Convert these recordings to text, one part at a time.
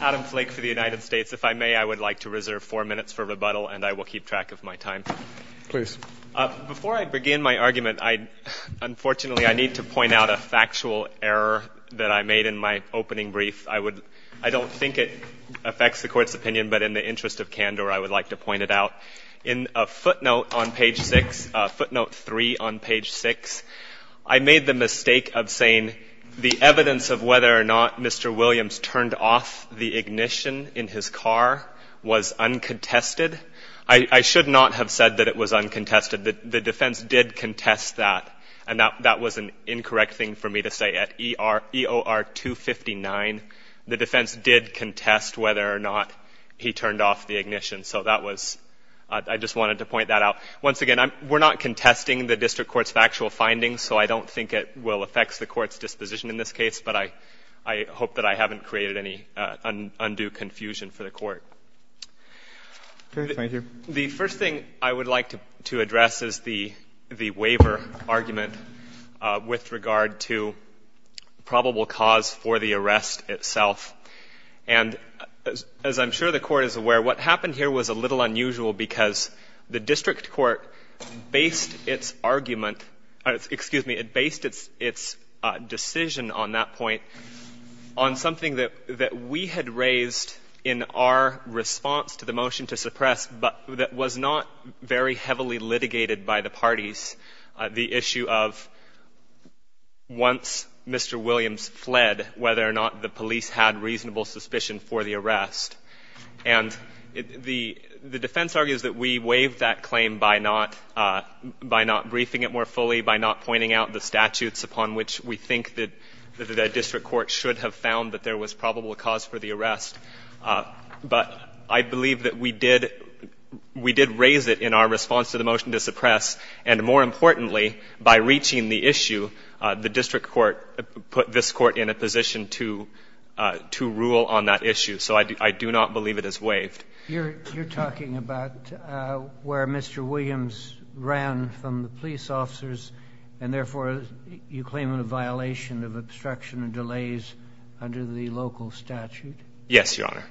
Adam Flake for the United States. If I may, I would like to reserve four minutes for rebuttal and I will keep track of my time. Please. Before I begin my argument, unfortunately, I need to point out a factual error that I made in my opening brief. I don't think it affects the Court's opinion, but in the interest of candor, I would like to point it out. In a footnote on page six, footnote three on page six, I made the mistake of saying the evidence of whether or not Mr. Williams turned off the ignition in his car was uncontested. I should not have said that it was uncontested. The defense did contest that, and that was an incorrect thing for me to say. At EOR 259, the defense did contest whether or not he turned off the ignition. So that was — I just wanted to point that out. Once again, we're not contesting the district court's factual findings, so I don't think it will affect the Court's disposition in this case, but I hope that I haven't created any undue confusion for the Court. Thank you. The first thing I would like to address is the waiver argument with regard to probable cause for the arrest itself. And as I'm sure the Court is aware, what happened here was a little unusual because the district court based its argument — that was not very heavily litigated by the parties, the issue of once Mr. Williams fled, whether or not the police had reasonable suspicion for the arrest. And the defense argues that we waived that claim by not briefing it more fully, by not pointing out the statutes upon which we think that the district court should have found that there was probable cause for the arrest. But I believe that we did raise it in our response to the motion to suppress, and more importantly, by reaching the issue, the district court put this court in a position to rule on that issue. So I do not believe it is waived. You're talking about where Mr. Williams ran from the police officers, and therefore you claim a violation of obstruction of delays under the local statute? Yes, Your Honor.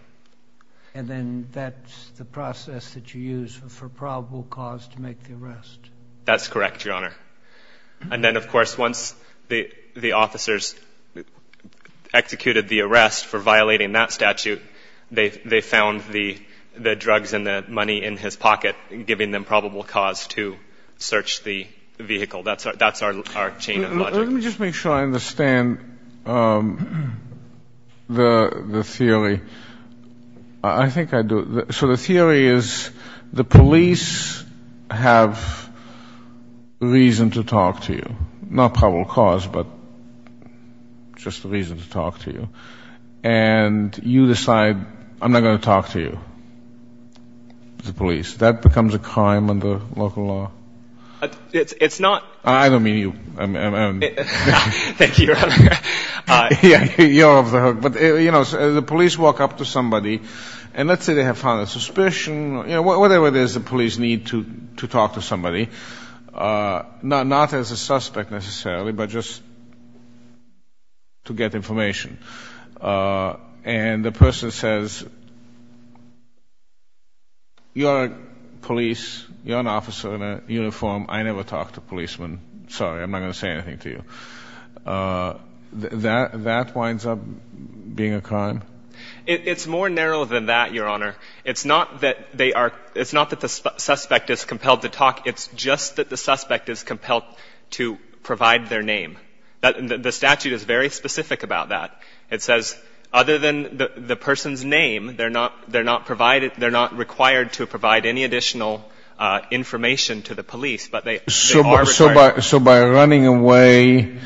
And then that's the process that you use for probable cause to make the arrest? That's correct, Your Honor. And then, of course, once the officers executed the arrest for violating that statute, they found the drugs and the money in his pocket, giving them probable cause to search the vehicle. That's our chain of logic. Let me just make sure I understand the theory. I think I do. So the theory is the police have reason to talk to you, not probable cause, but just reason to talk to you, and you decide I'm not going to talk to you, the police. That becomes a crime under local law? It's not. I don't mean you. Thank you, Your Honor. You're off the hook. But, you know, the police walk up to somebody, and let's say they have found a suspicion, you know, whatever it is the police need to talk to somebody, not as a suspect necessarily, but just to get information. And the person says, you're a police, you're an officer in a uniform, I never talk to policemen. Sorry, I'm not going to say anything to you. That winds up being a crime? It's more narrow than that, Your Honor. It's not that the suspect is compelled to talk. It's just that the suspect is compelled to provide their name. The statute is very specific about that. It says other than the person's name, they're not required to provide any additional information to the police, but they are required. So by running away,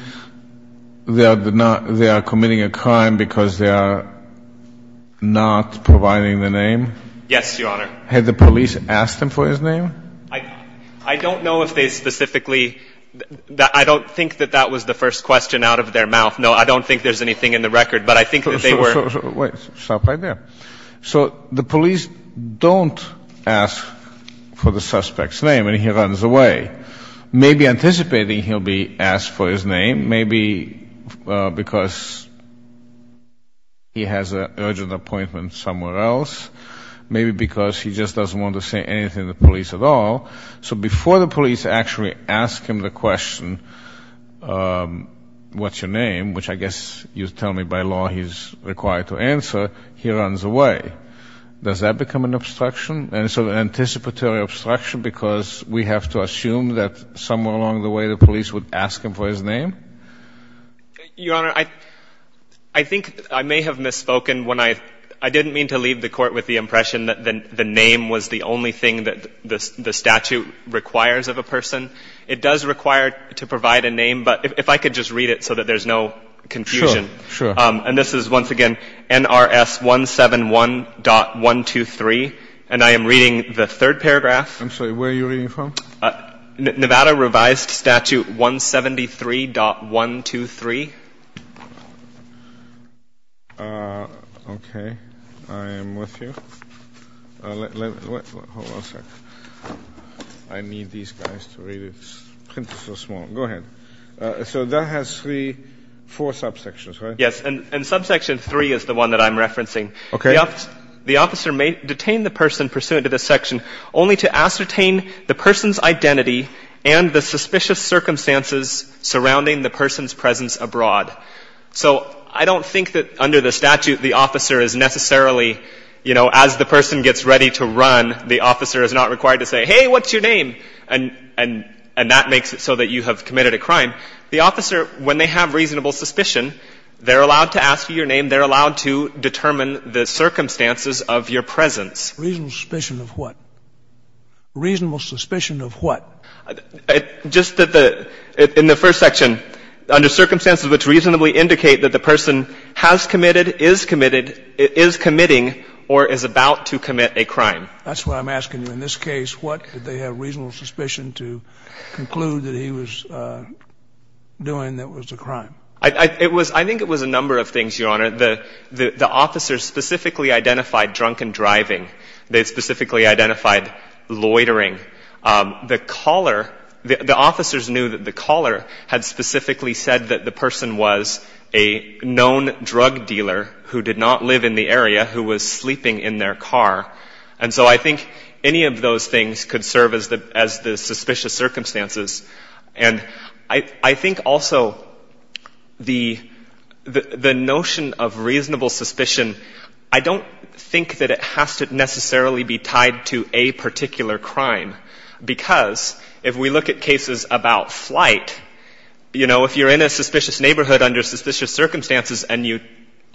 they are committing a crime because they are not providing the name? Yes, Your Honor. Had the police asked them for his name? I don't know if they specifically, I don't think that that was the first question out of their mouth. No, I don't think there's anything in the record, but I think that they were. Wait, stop right there. So the police don't ask for the suspect's name, and he runs away, maybe anticipating he'll be asked for his name, maybe because he has an urgent appointment somewhere else, maybe because he just doesn't want to say anything to the police at all. So before the police actually ask him the question, what's your name, which I guess you're telling me by law he's required to answer, he runs away. Does that become an obstruction, an anticipatory obstruction, because we have to assume that somewhere along the way the police would ask him for his name? Your Honor, I think I may have misspoken when I didn't mean to leave the Court with the impression that the name was the only thing that the statute requires of a person. It does require to provide a name, but if I could just read it so that there's no confusion. Sure, sure. And this is, once again, NRS 171.123, and I am reading the third paragraph. I'm sorry, where are you reading from? Nevada revised statute 173.123. Okay, I am with you. Hold on a sec. I need these guys to read it. It's so small. Go ahead. So that has three, four subsections, right? Yes, and subsection three is the one that I'm referencing. Okay. The officer may detain the person pursuant to this section only to ascertain the person's identity and the suspicious circumstances surrounding the person's presence abroad. So I don't think that under the statute the officer is necessarily, you know, as the person gets ready to run, the officer is not required to say, hey, what's your name? And that makes it so that you have committed a crime. The officer, when they have reasonable suspicion, they're allowed to ask you your name. And they're allowed to determine the circumstances of your presence. Reasonable suspicion of what? Reasonable suspicion of what? Just that the — in the first section, under circumstances which reasonably indicate that the person has committed, is committed, is committing, or is about to commit a crime. That's what I'm asking you. In this case, what did they have reasonable suspicion to conclude that he was doing that was a crime? I think it was a number of things, Your Honor. The officers specifically identified drunken driving. They specifically identified loitering. The caller — the officers knew that the caller had specifically said that the person was a known drug dealer who did not live in the area, who was sleeping in their car. And so I think any of those things could serve as the suspicious circumstances. And I think also the notion of reasonable suspicion, I don't think that it has to necessarily be tied to a particular crime. Because if we look at cases about flight, you know, if you're in a suspicious neighborhood under suspicious circumstances, and you —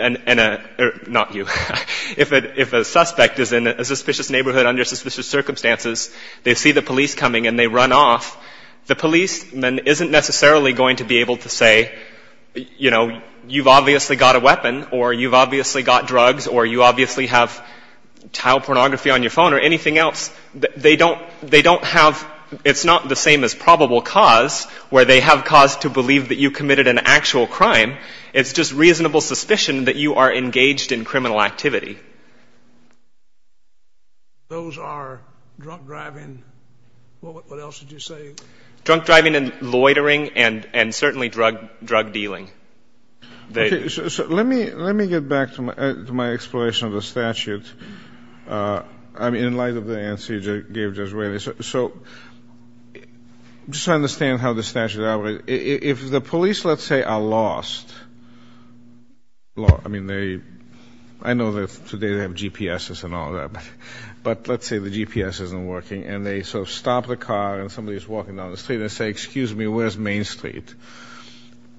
not you — if a suspect is in a suspicious neighborhood under suspicious circumstances, they see the police coming and they run off, the policeman isn't necessarily going to be able to say, you know, you've obviously got a weapon, or you've obviously got drugs, or you obviously have child pornography on your phone, or anything else. They don't have — it's not the same as probable cause, where they have cause to believe that you committed an actual crime. It's just reasonable suspicion that you are engaged in criminal activity. Those are drunk driving — what else did you say? Drunk driving and loitering, and certainly drug dealing. Okay, so let me get back to my exploration of the statute. I mean, in light of the answer you gave just recently. So just to understand how the statute operates. If the police, let's say, are lost — I mean, they — I know that today they have GPSs and all that, but let's say the GPS isn't working, and they sort of stop the car, and somebody is walking down the street, and they say, excuse me, where's Main Street?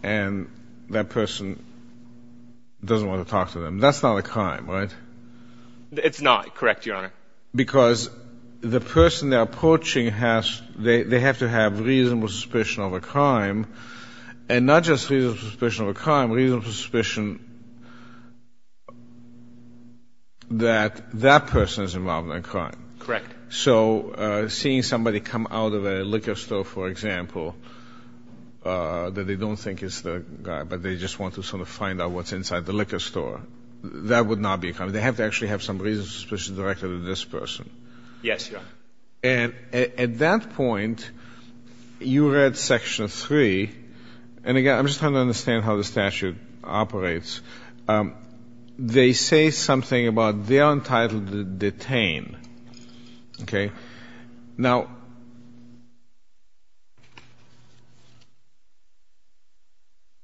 And that person doesn't want to talk to them. That's not a crime, right? It's not, correct, Your Honor. Because the person they're approaching has — they have to have reasonable suspicion of a crime, and not just reasonable suspicion of a crime, reasonable suspicion that that person is involved in a crime. Correct. So seeing somebody come out of a liquor store, for example, that they don't think is the guy, but they just want to sort of find out what's inside the liquor store, that would not be a crime. They have to actually have some reasonable suspicion directed at this person. Yes, Your Honor. And at that point, you read Section 3, and again, I'm just trying to understand how the statute operates. They say something about they are entitled to detain. Okay? Now,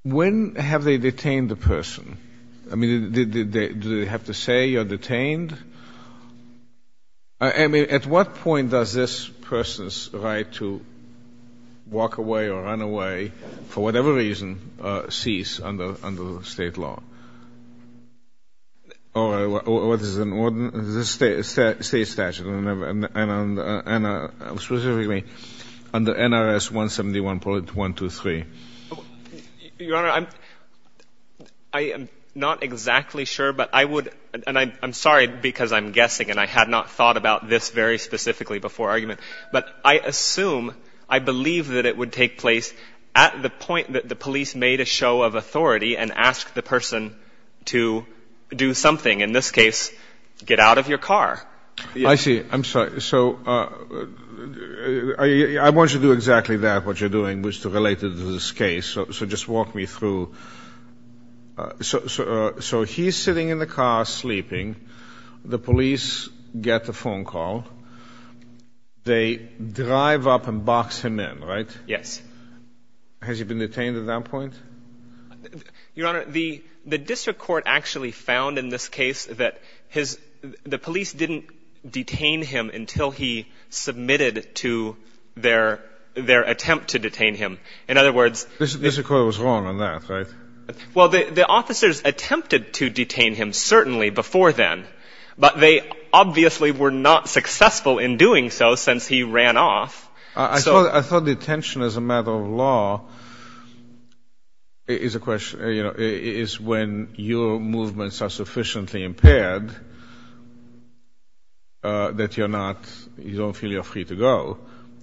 when have they detained the person? I mean, do they have to say you're detained? I mean, at what point does this person's right to walk away or run away, for whatever reason, cease under State law? Or what is it, State statute, and specifically under NRS 171.123? Your Honor, I'm not exactly sure, but I would — and I'm sorry because I'm guessing, and I had not thought about this very specifically before argument. But I assume, I believe that it would take place at the point that the police made a show of authority and asked the person to do something, in this case, get out of your car. I see. I'm sorry. So I want you to do exactly that, what you're doing, which is related to this case. So just walk me through. So he's sitting in the car, sleeping. The police get the phone call. They drive up and box him in, right? Yes. Has he been detained at that point? Your Honor, the district court actually found in this case that the police didn't detain him until he submitted to their attempt to detain him. In other words — The district court was wrong on that, right? Well, the officers attempted to detain him, certainly, before then. But they obviously were not successful in doing so since he ran off. I thought detention as a matter of law is a question — is when your movements are sufficiently impaired that you're not — you don't feel you're free to go,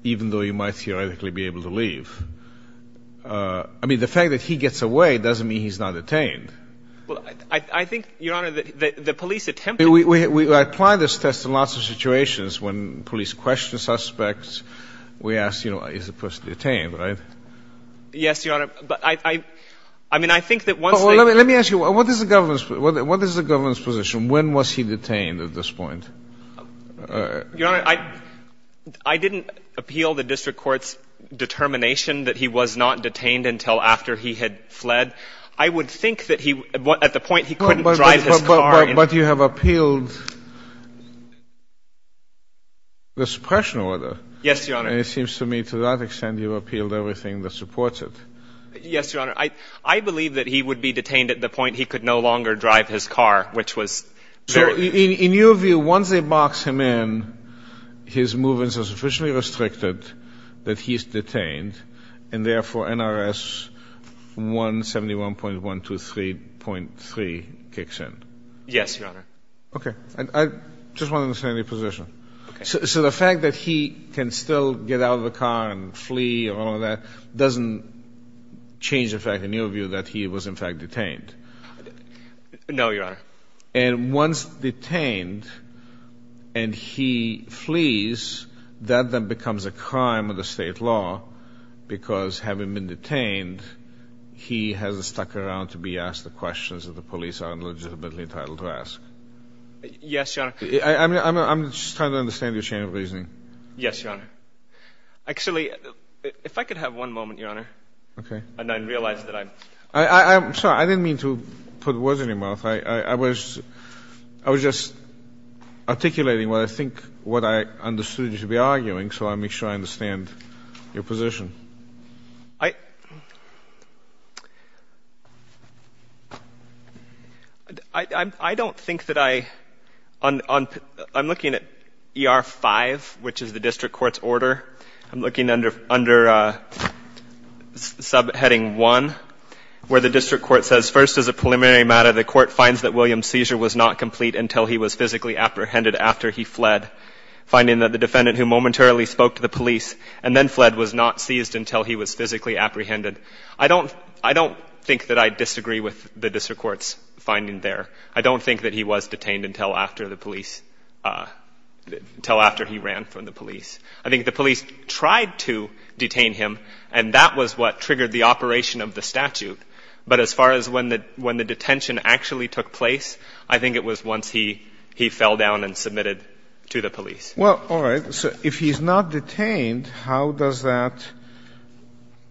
even though you might theoretically be able to leave. I mean, the fact that he gets away doesn't mean he's not detained. Well, I think, Your Honor, the police attempted — We apply this test in lots of situations when police question suspects. We ask, you know, is the person detained, right? Yes, Your Honor, but I — I mean, I think that once they — Let me ask you, what is the government's — what is the government's position? When was he detained at this point? Your Honor, I didn't appeal the district court's determination that he was not detained until after he had fled. I would think that he — at the point he couldn't drive his car — But you have appealed the suppression order. Yes, Your Honor. And it seems to me to that extent you've appealed everything that supports it. Yes, Your Honor. I believe that he would be detained at the point he could no longer drive his car, which was very — So in your view, once they box him in, his movements are sufficiently restricted that he's detained, and therefore NRS 171.123.3 kicks in? Yes, Your Honor. Okay. I just want to understand your position. Okay. So the fact that he can still get out of the car and flee and all of that doesn't change, in fact, in your view, that he was, in fact, detained? No, Your Honor. And once detained and he flees, that then becomes a crime of the state law, because having been detained, he has stuck around to be asked the questions that the police are illegitimately entitled to ask. Yes, Your Honor. I'm just trying to understand your chain of reasoning. Yes, Your Honor. Actually, if I could have one moment, Your Honor. Okay. And I realize that I'm — I'm sorry. I didn't mean to put words in your mouth. I was just articulating what I think — what I understood you to be arguing, so let me try to understand your position. I — I don't think that I — I'm looking at ER-5, which is the district court's order. I'm looking under subheading 1, where the district court says, First, as a preliminary matter, the court finds that William's seizure was not complete until he was physically apprehended after he fled, finding that the defendant who momentarily spoke to the police and then fled was not seized until he was physically apprehended. I don't — I don't think that I disagree with the district court's finding there. I don't think that he was detained until after the police — until after he ran from the police. I think the police tried to detain him, and that was what triggered the operation of the statute. But as far as when the — when the detention actually took place, I think it was once he fell down and submitted to the police. Well, all right. So if he's not detained, how does that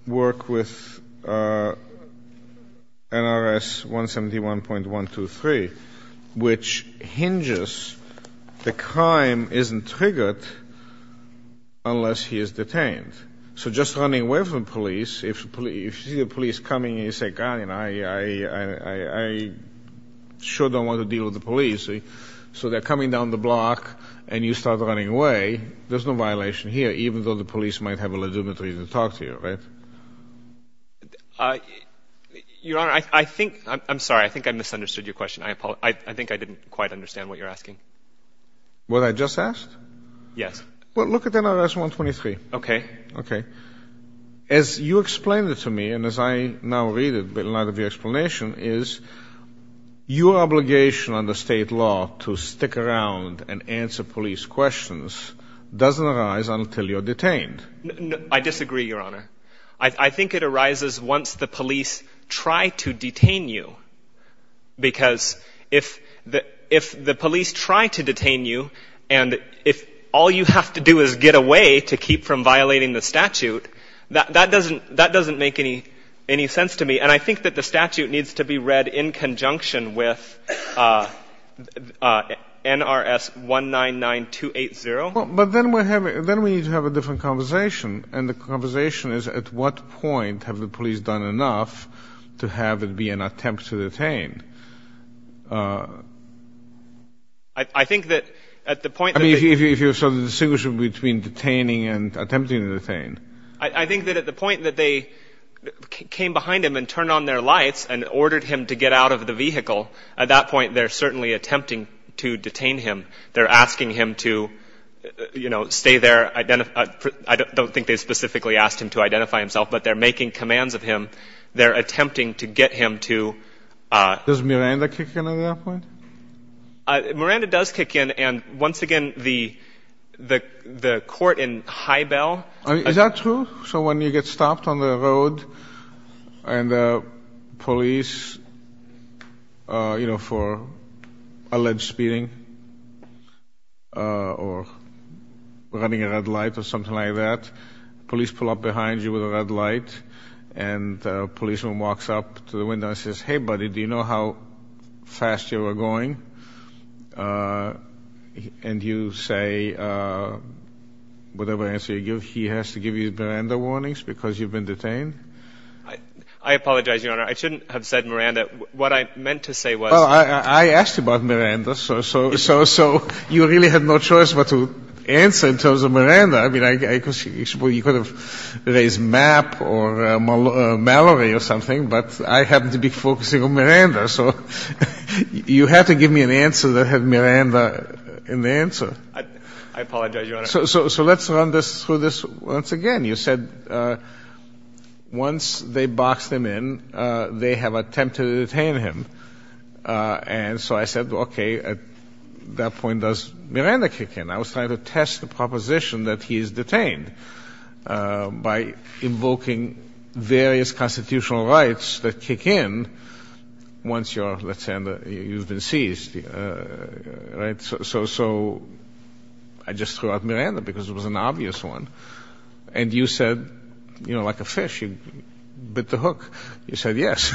work with NRS 171.123, which hinges the crime isn't triggered unless he is detained? So just running away from the police, if you see the police coming and you say, God, you know, I sure don't want to deal with the police, so they're coming down the block and you start running away, there's no violation here, even though the police might have a legitimate reason to talk to you, right? Your Honor, I think — I'm sorry. I think I misunderstood your question. I think I didn't quite understand what you're asking. What I just asked? Yes. Well, look at NRS 123. Okay. Okay. As you explained it to me, and as I now read a lot of your explanation, is your obligation under state law to stick around and answer police questions doesn't arise until you're detained. I disagree, Your Honor. I think it arises once the police try to detain you, because if the police try to detain you and if all you have to do is get away to keep from violating the statute, that doesn't make any sense to me. And I think that the statute needs to be read in conjunction with NRS 199-280. But then we need to have a different conversation, and the conversation is at what point have the police done enough to have it be an attempt to detain? I think that at the point that they – I mean, if you saw the distinction between detaining and attempting to detain. I think that at the point that they came behind him and turned on their lights and ordered him to get out of the vehicle, at that point they're certainly attempting to detain him. They're asking him to, you know, stay there. I don't think they specifically asked him to identify himself, but they're making commands of him. They're attempting to get him to – Does Miranda kick in at that point? Miranda does kick in, and once again, the court in Highbell – Is that true? So when you get stopped on the road and the police, you know, for alleged speeding or running a red light or something like that, police pull up behind you with a red light, and a policeman walks up to the window and says, Hey, buddy, do you know how fast you were going? And you say, whatever answer you give, he has to give you Miranda warnings because you've been detained? I apologize, Your Honor. I shouldn't have said Miranda. What I meant to say was – Well, I asked about Miranda, so you really had no choice but to answer in terms of Miranda. I mean, you could have raised MAP or Mallory or something, but I happen to be focusing on Miranda, so you had to give me an answer that had Miranda in the answer. I apologize, Your Honor. So let's run through this once again. You said once they boxed him in, they have attempted to detain him. And so I said, okay, at that point, does Miranda kick in? I was trying to test the proposition that he is detained by invoking various constitutional rights that kick in once you're – let's say you've been seized, right? So I just threw out Miranda because it was an obvious one. And you said, you know, like a fish, you bit the hook. You said yes.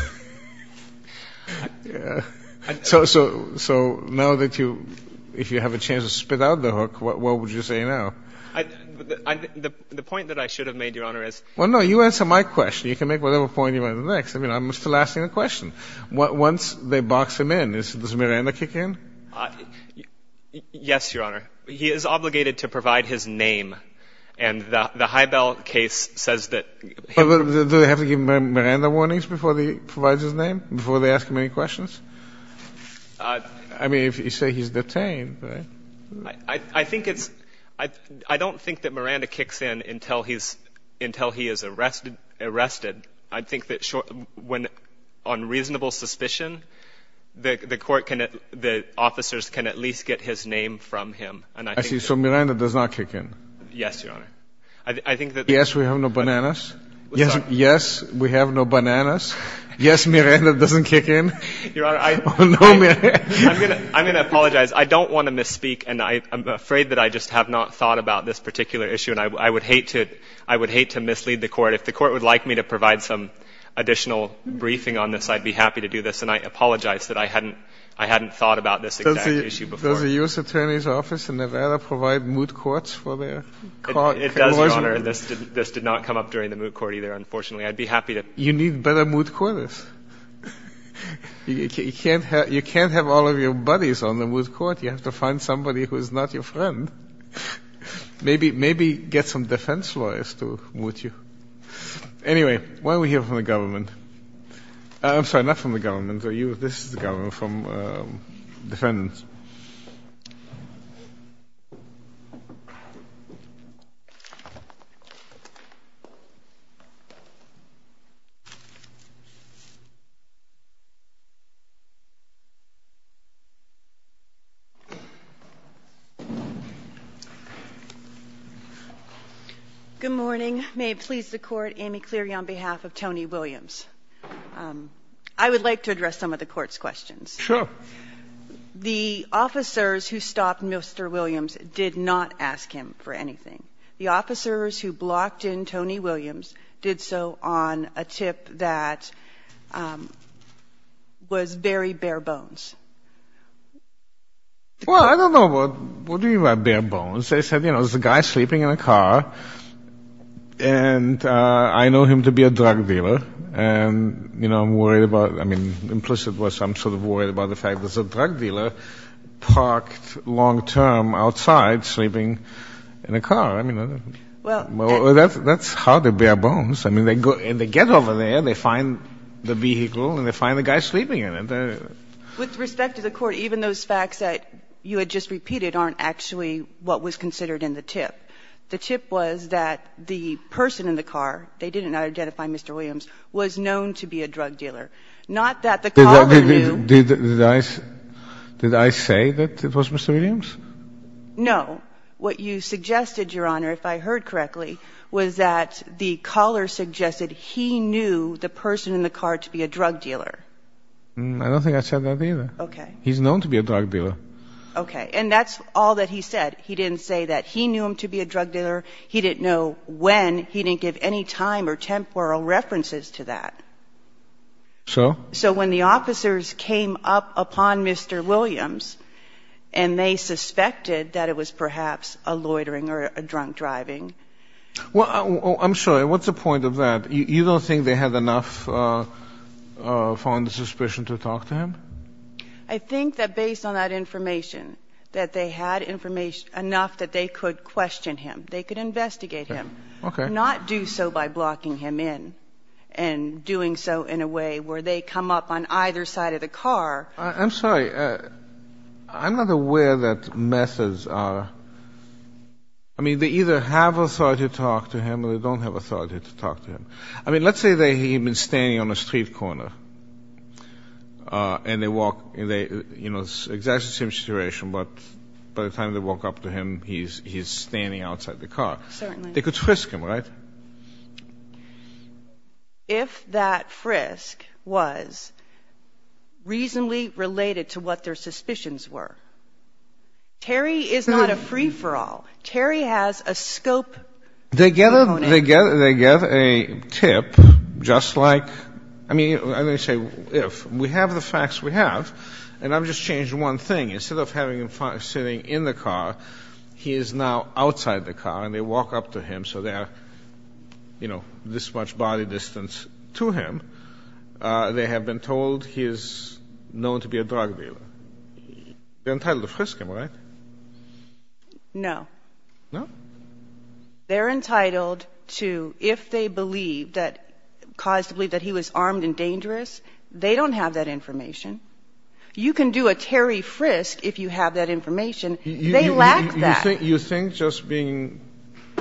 So now that you – if you have a chance to spit out the hook, what would you say now? The point that I should have made, Your Honor, is – Well, no, you answer my question. You can make whatever point you want in the next. I mean, I'm still asking the question. Once they box him in, does Miranda kick in? Yes, Your Honor. He is obligated to provide his name, and the Highbell case says that – Do they have to give Miranda warnings before he provides his name, before they ask him any questions? I mean, if you say he's detained, right? I think it's – I don't think that Miranda kicks in until he is arrested. I think that on reasonable suspicion, the court can – the officers can at least get his name from him. I see. Yes, Your Honor. I think that – Yes, we have no bananas. What's that? Yes, we have no bananas. Yes, Miranda doesn't kick in. Your Honor, I – No, Miranda. I'm going to apologize. I don't want to misspeak, and I'm afraid that I just have not thought about this particular issue, and I would hate to – I would hate to mislead the court. If the court would like me to provide some additional briefing on this, I'd be happy to do this, and I apologize that I hadn't thought about this exact issue before. Does the U.S. Attorney's Office in Nevada provide moot courts for their – It does, Your Honor, and this did not come up during the moot court either, unfortunately. I'd be happy to – You need better moot courters. You can't have all of your buddies on the moot court. You have to find somebody who is not your friend. Maybe get some defense lawyers to moot you. Anyway, why don't we hear from the government? I'm sorry, not from the government. This is the government from defendants. Good morning. May it please the Court, Amy Cleary on behalf of Tony Williams. I would like to address some of the court's questions. Sure. The officers who stopped Mr. Williams did not ask him for anything. The officers who blocked in Tony Williams did so on a tip that was very bare bones. Well, I don't know what you mean by bare bones. They said, you know, there's a guy sleeping in a car, and I know him to be a drug dealer, and, you know, I'm worried about – I mean, implicit was I'm sort of worried about the fact there's a drug dealer parked long-term outside sleeping in a car. I mean, that's how they're bare bones. I mean, they get over there, they find the vehicle, and they find the guy sleeping in it. With respect to the Court, even those facts that you had just repeated aren't actually what was considered in the tip. The tip was that the person in the car, they did not identify Mr. Williams, was known to be a drug dealer. Not that the caller knew. Did I say that it was Mr. Williams? No. What you suggested, Your Honor, if I heard correctly, was that the caller suggested he knew the person in the car to be a drug dealer. I don't think I said that either. Okay. He's known to be a drug dealer. Okay. And that's all that he said. He didn't say that he knew him to be a drug dealer. He didn't know when. He didn't give any time or temporal references to that. So? So when the officers came up upon Mr. Williams, and they suspected that it was perhaps a loitering or a drunk driving. Well, I'm sure. What's the point of that? You don't think they had enough foreign suspicion to talk to him? I think that based on that information, that they had enough that they could question him. They could investigate him. Okay. Not do so by blocking him in and doing so in a way where they come up on either side of the car. I'm sorry. I'm not aware that methods are. I mean, they either have authority to talk to him or they don't have authority to talk to him. I mean, let's say that he had been standing on a street corner, and they walk. You know, it's exactly the same situation, but by the time they walk up to him, he's standing outside the car. Certainly. They could frisk him, right? If that frisk was reasonably related to what their suspicions were. Terry is not a free-for-all. Terry has a scope. They get a tip just like, I mean, I'm going to say if. We have the facts we have, and I've just changed one thing. Instead of having him sitting in the car, he is now outside the car, and they walk up to him. So they are, you know, this much body distance to him. They have been told he is known to be a drug dealer. They're entitled to frisk him, right? No. No? They're entitled to, if they believe that, cause to believe that he was armed and dangerous, they don't have that information. You can do a Terry frisk if you have that information. They lack that. You think just being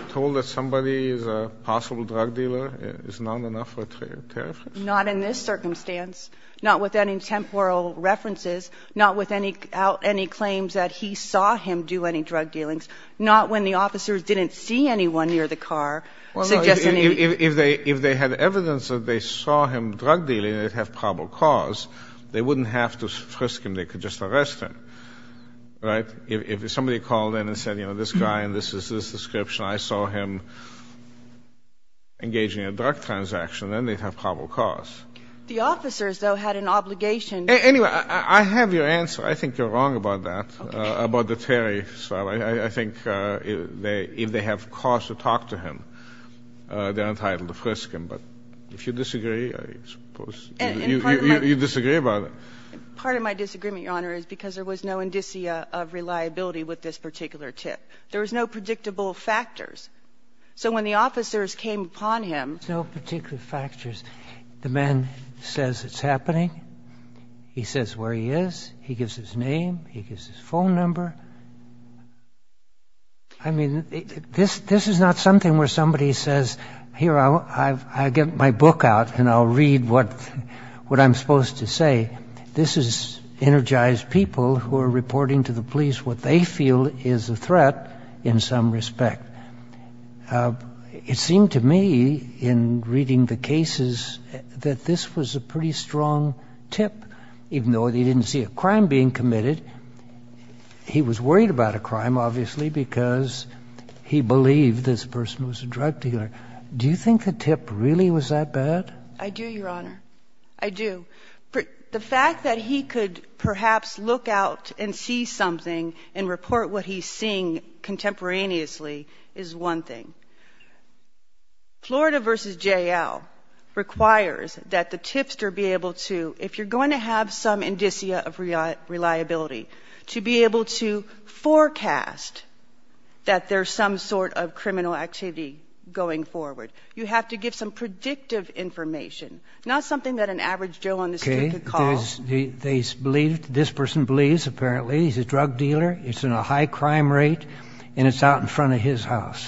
told that somebody is a possible drug dealer is not enough for a Terry frisk? Not in this circumstance. Not with any temporal references. Not with any claims that he saw him do any drug dealings. Not when the officers didn't see anyone near the car. If they had evidence that they saw him drug dealing, they'd have probable cause. They wouldn't have to frisk him. They could just arrest him, right? If somebody called in and said, you know, this guy and this is his description, I saw him engaging in a drug transaction, then they'd have probable cause. The officers, though, had an obligation. Anyway, I have your answer. I think you're wrong about that, about the Terry. I think if they have cause to talk to him, they're entitled to frisk him. But if you disagree, I suppose you disagree about it. Part of my disagreement, Your Honor, is because there was no indicia of reliability with this particular tip. There was no predictable factors. So when the officers came upon him. No particular factors. The man says it's happening. He says where he is. He gives his name. He gives his phone number. I mean, this is not something where somebody says, here, I'll get my book out and I'll read what I'm supposed to say. This is energized people who are reporting to the police what they feel is a threat in some respect. It seemed to me in reading the cases that this was a pretty strong tip, even though he didn't see a crime being committed. He was worried about a crime, obviously, because he believed this person was a drug dealer. Do you think the tip really was that bad? I do, Your Honor. I do. The fact that he could perhaps look out and see something and report what he's seeing contemporaneously is one thing. Florida v. J.L. requires that the tipster be able to, if you're going to have some indicia of reliability, to be able to forecast that there's some sort of criminal activity going forward. You have to give some predictive information, not something that an average jail on the street could call. Okay. They believed, this person believes, apparently, he's a drug dealer, he's in a high crime rate, and it's out in front of his house.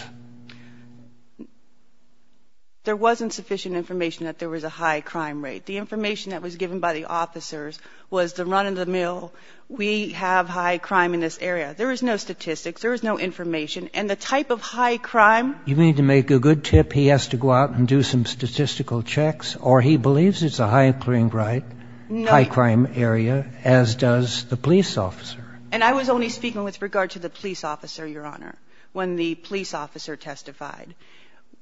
There wasn't sufficient information that there was a high crime rate. The information that was given by the officers was the run of the mill, we have high crime in this area. There was no statistics. There was no information. And the type of high crime. You mean to make a good tip he has to go out and do some statistical checks, or he believes it's a high crime rate, high crime area, as does the police officer? And I was only speaking with regard to the police officer, Your Honor, when the police officer testified.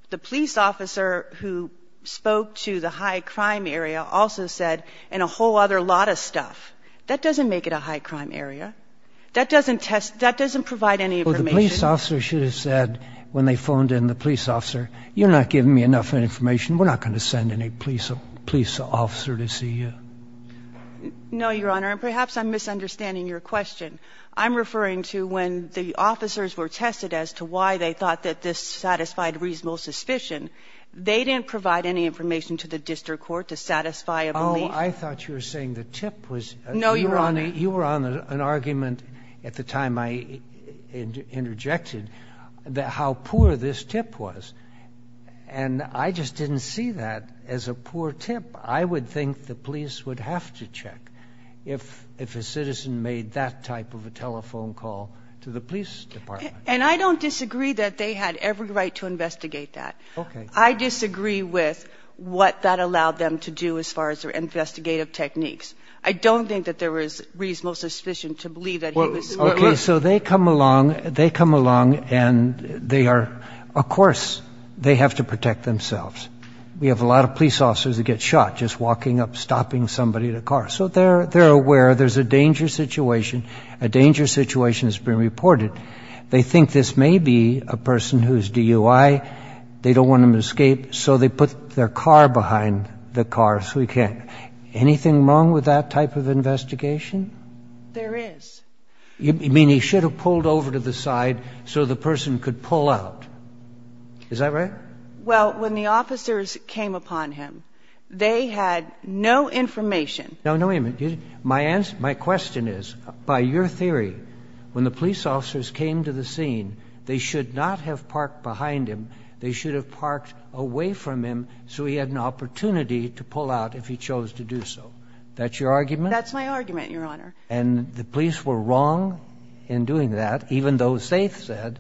The police officer who spoke to the high crime area also said, and a whole other lot of stuff, that doesn't make it a high crime area. That doesn't provide any information. The police officer should have said when they phoned in the police officer, you're not giving me enough information. We're not going to send in a police officer to see you. No, Your Honor. And perhaps I'm misunderstanding your question. I'm referring to when the officers were tested as to why they thought that this satisfied reasonable suspicion. They didn't provide any information to the district court to satisfy a belief. Oh, I thought you were saying the tip was. No, Your Honor. Your Honor, you were on an argument at the time I interjected how poor this tip was. And I just didn't see that as a poor tip. I would think the police would have to check if a citizen made that type of a telephone call to the police department. And I don't disagree that they had every right to investigate that. Okay. I disagree with what that allowed them to do as far as their investigative techniques. I don't think that there was reasonable suspicion to believe that he was. Okay. So they come along and they are, of course, they have to protect themselves. We have a lot of police officers that get shot just walking up, stopping somebody in a car. So they're aware there's a dangerous situation. A dangerous situation has been reported. They think this may be a person who is DUI. They don't want him to escape, so they put their car behind the car so he can't. Anything wrong with that type of investigation? There is. You mean he should have pulled over to the side so the person could pull out. Is that right? Well, when the officers came upon him, they had no information. No, no, wait a minute. My question is, by your theory, when the police officers came to the scene, they should not have parked behind him. They should have parked away from him so he had an opportunity to pull out if he chose to do so. That's your argument? That's my argument, Your Honor. And the police were wrong in doing that, even though they said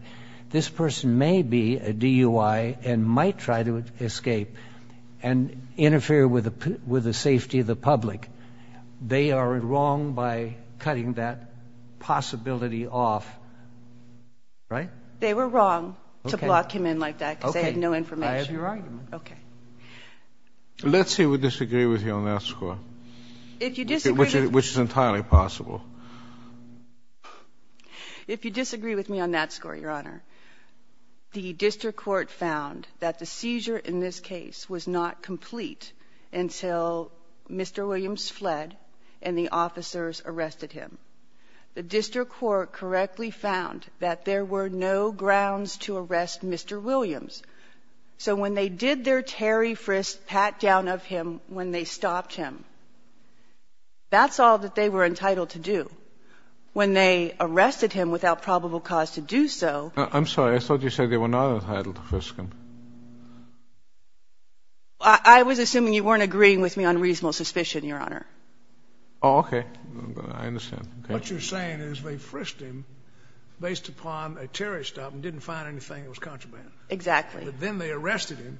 this person may be a DUI and might try to escape and interfere with the safety of the public. They are wrong by cutting that possibility off, right? They were wrong to block him in like that because they had no information. Okay, I have your argument. Okay. Let's say we disagree with you on that score, which is entirely possible. If you disagree with me on that score, Your Honor, the district court found that the seizure in this case was not complete until Mr. Williams fled and the officers arrested him. The district court correctly found that there were no grounds to arrest Mr. Williams. So when they did their Terry Frist pat-down of him when they stopped him, that's all that they were entitled to do. When they arrested him without probable cause to do so... I'm sorry. I thought you said they were not entitled to frisk him. I was assuming you weren't agreeing with me on reasonable suspicion, Your Honor. Oh, okay. I understand. What you're saying is they frisked him based upon a Terry stop and didn't find anything that was contraband. Exactly. But then they arrested him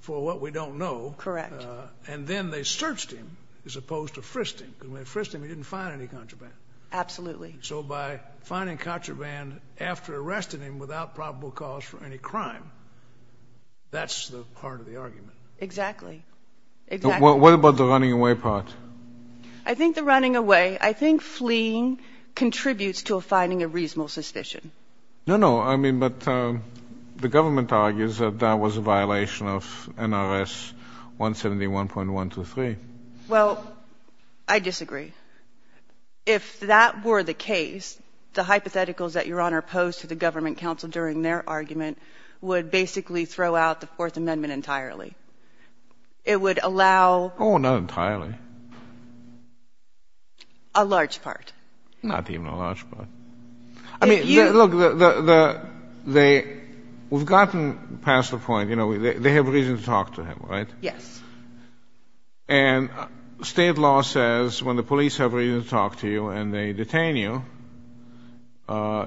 for what we don't know. Correct. And then they searched him as opposed to frisking. When they frisked him, he didn't find any contraband. Absolutely. So by finding contraband after arresting him without probable cause for any crime, that's the heart of the argument. Exactly. What about the running away part? I think the running away, I think fleeing contributes to finding a reasonable suspicion. No, no. I mean, but the government argues that that was a violation of NRS 171.123. Well, I disagree. If that were the case, the hypotheticals that Your Honor posed to the government counsel during their argument would basically throw out the Fourth Amendment entirely. It would allow... Oh, not entirely. A large part. Not even a large part. I mean, look, we've gotten past the point, you know, they have a reason to talk to him, right? Yes. And state law says when the police have a reason to talk to you and they detain you,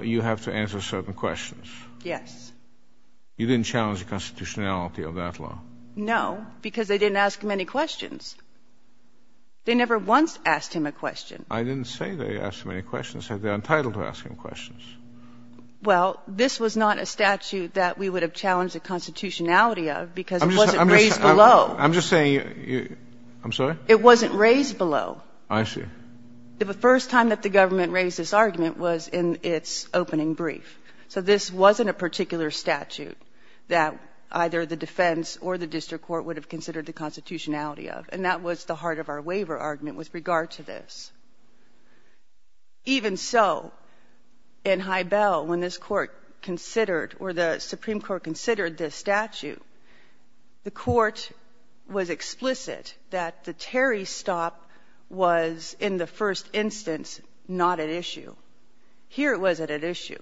you have to answer certain questions. Yes. You didn't challenge the constitutionality of that law. No, because they didn't ask him any questions. They never once asked him a question. I didn't say they asked him any questions. They're entitled to ask him questions. Well, this was not a statute that we would have challenged the constitutionality of because it wasn't raised below. I'm just saying, I'm sorry? It wasn't raised below. I see. The first time that the government raised this argument was in its opening brief. So this wasn't a particular statute that either the defense or the district court would have considered the constitutionality of, and that was the heart of our waiver argument with regard to this. Even so, in High Bell, when this court considered or the Supreme Court considered this statute, the court was explicit that the Terry stop was, in the first instance, not at issue. Here it was at issue.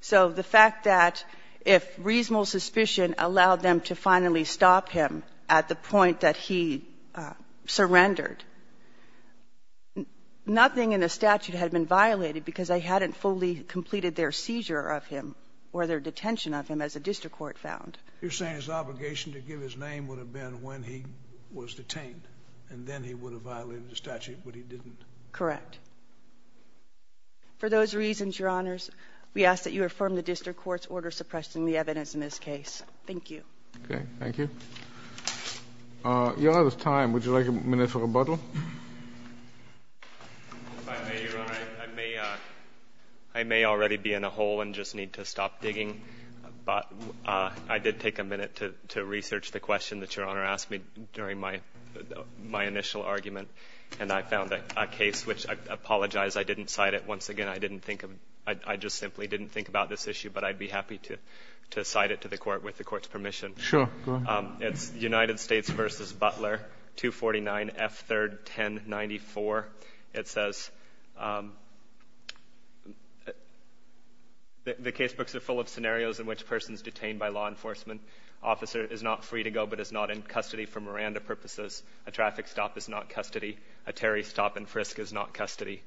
So the fact that if reasonable suspicion allowed them to finally stop him at the point that he surrendered, nothing in the statute had been violated because they hadn't fully completed their seizure of him or their detention of him as the district court found. You're saying his obligation to give his name would have been when he was detained, and then he would have violated the statute, but he didn't. Correct. For those reasons, Your Honors, we ask that you affirm the district court's order suppressing the evidence in this case. Thank you. Okay. Thank you. Your Honor, this time, would you like a minute for rebuttal? If I may, Your Honor, I may already be in a hole and just need to stop digging, but I did take a minute to research the question that Your Honor asked me during my initial argument, and I found a case which I apologize I didn't cite it. Once again, I didn't think of it. I just simply didn't think about this issue, but I'd be happy to cite it to the Court with the Court's permission. Sure. Go on. It's United States v. Butler, 249 F. 3rd 1094. It says the case books are full of scenarios in which a person is detained by law enforcement, an officer is not free to go but is not in custody for Miranda purposes, a traffic stop is not custody, a Terry stop in Frisk is not custody.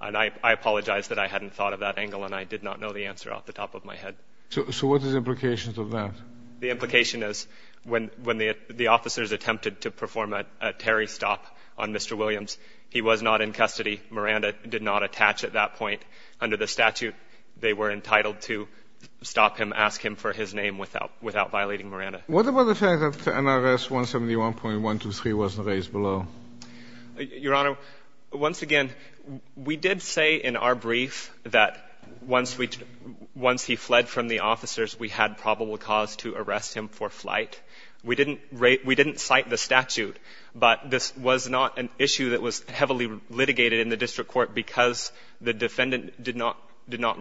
And I apologize that I hadn't thought of that angle, and I did not know the answer off the top of my head. So what is the implication of that? The implication is when the officers attempted to perform a Terry stop on Mr. Williams, he was not in custody. Miranda did not attach at that point. Under the statute, they were entitled to stop him, ask him for his name without violating Miranda. What about the fact that NRS 171.123 wasn't raised below? Your Honor, once again, we did say in our brief that once he fled from the officers, we had probable cause to arrest him for flight. We didn't cite the statute, but this was not an issue that was heavily litigated in the district court because the defendant did not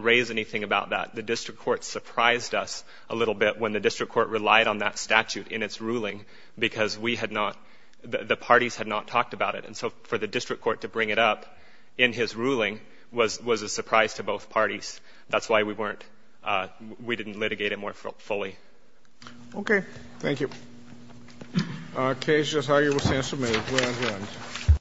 raise anything about that. The district court surprised us a little bit when the district court relied on that statute in its ruling because we had not, the parties had not talked about it. And so for the district court to bring it up in his ruling was a surprise to both parties. That's why we weren't, we didn't litigate it more fully. Okay. Thank you. Case, Justice Hager will stand to make.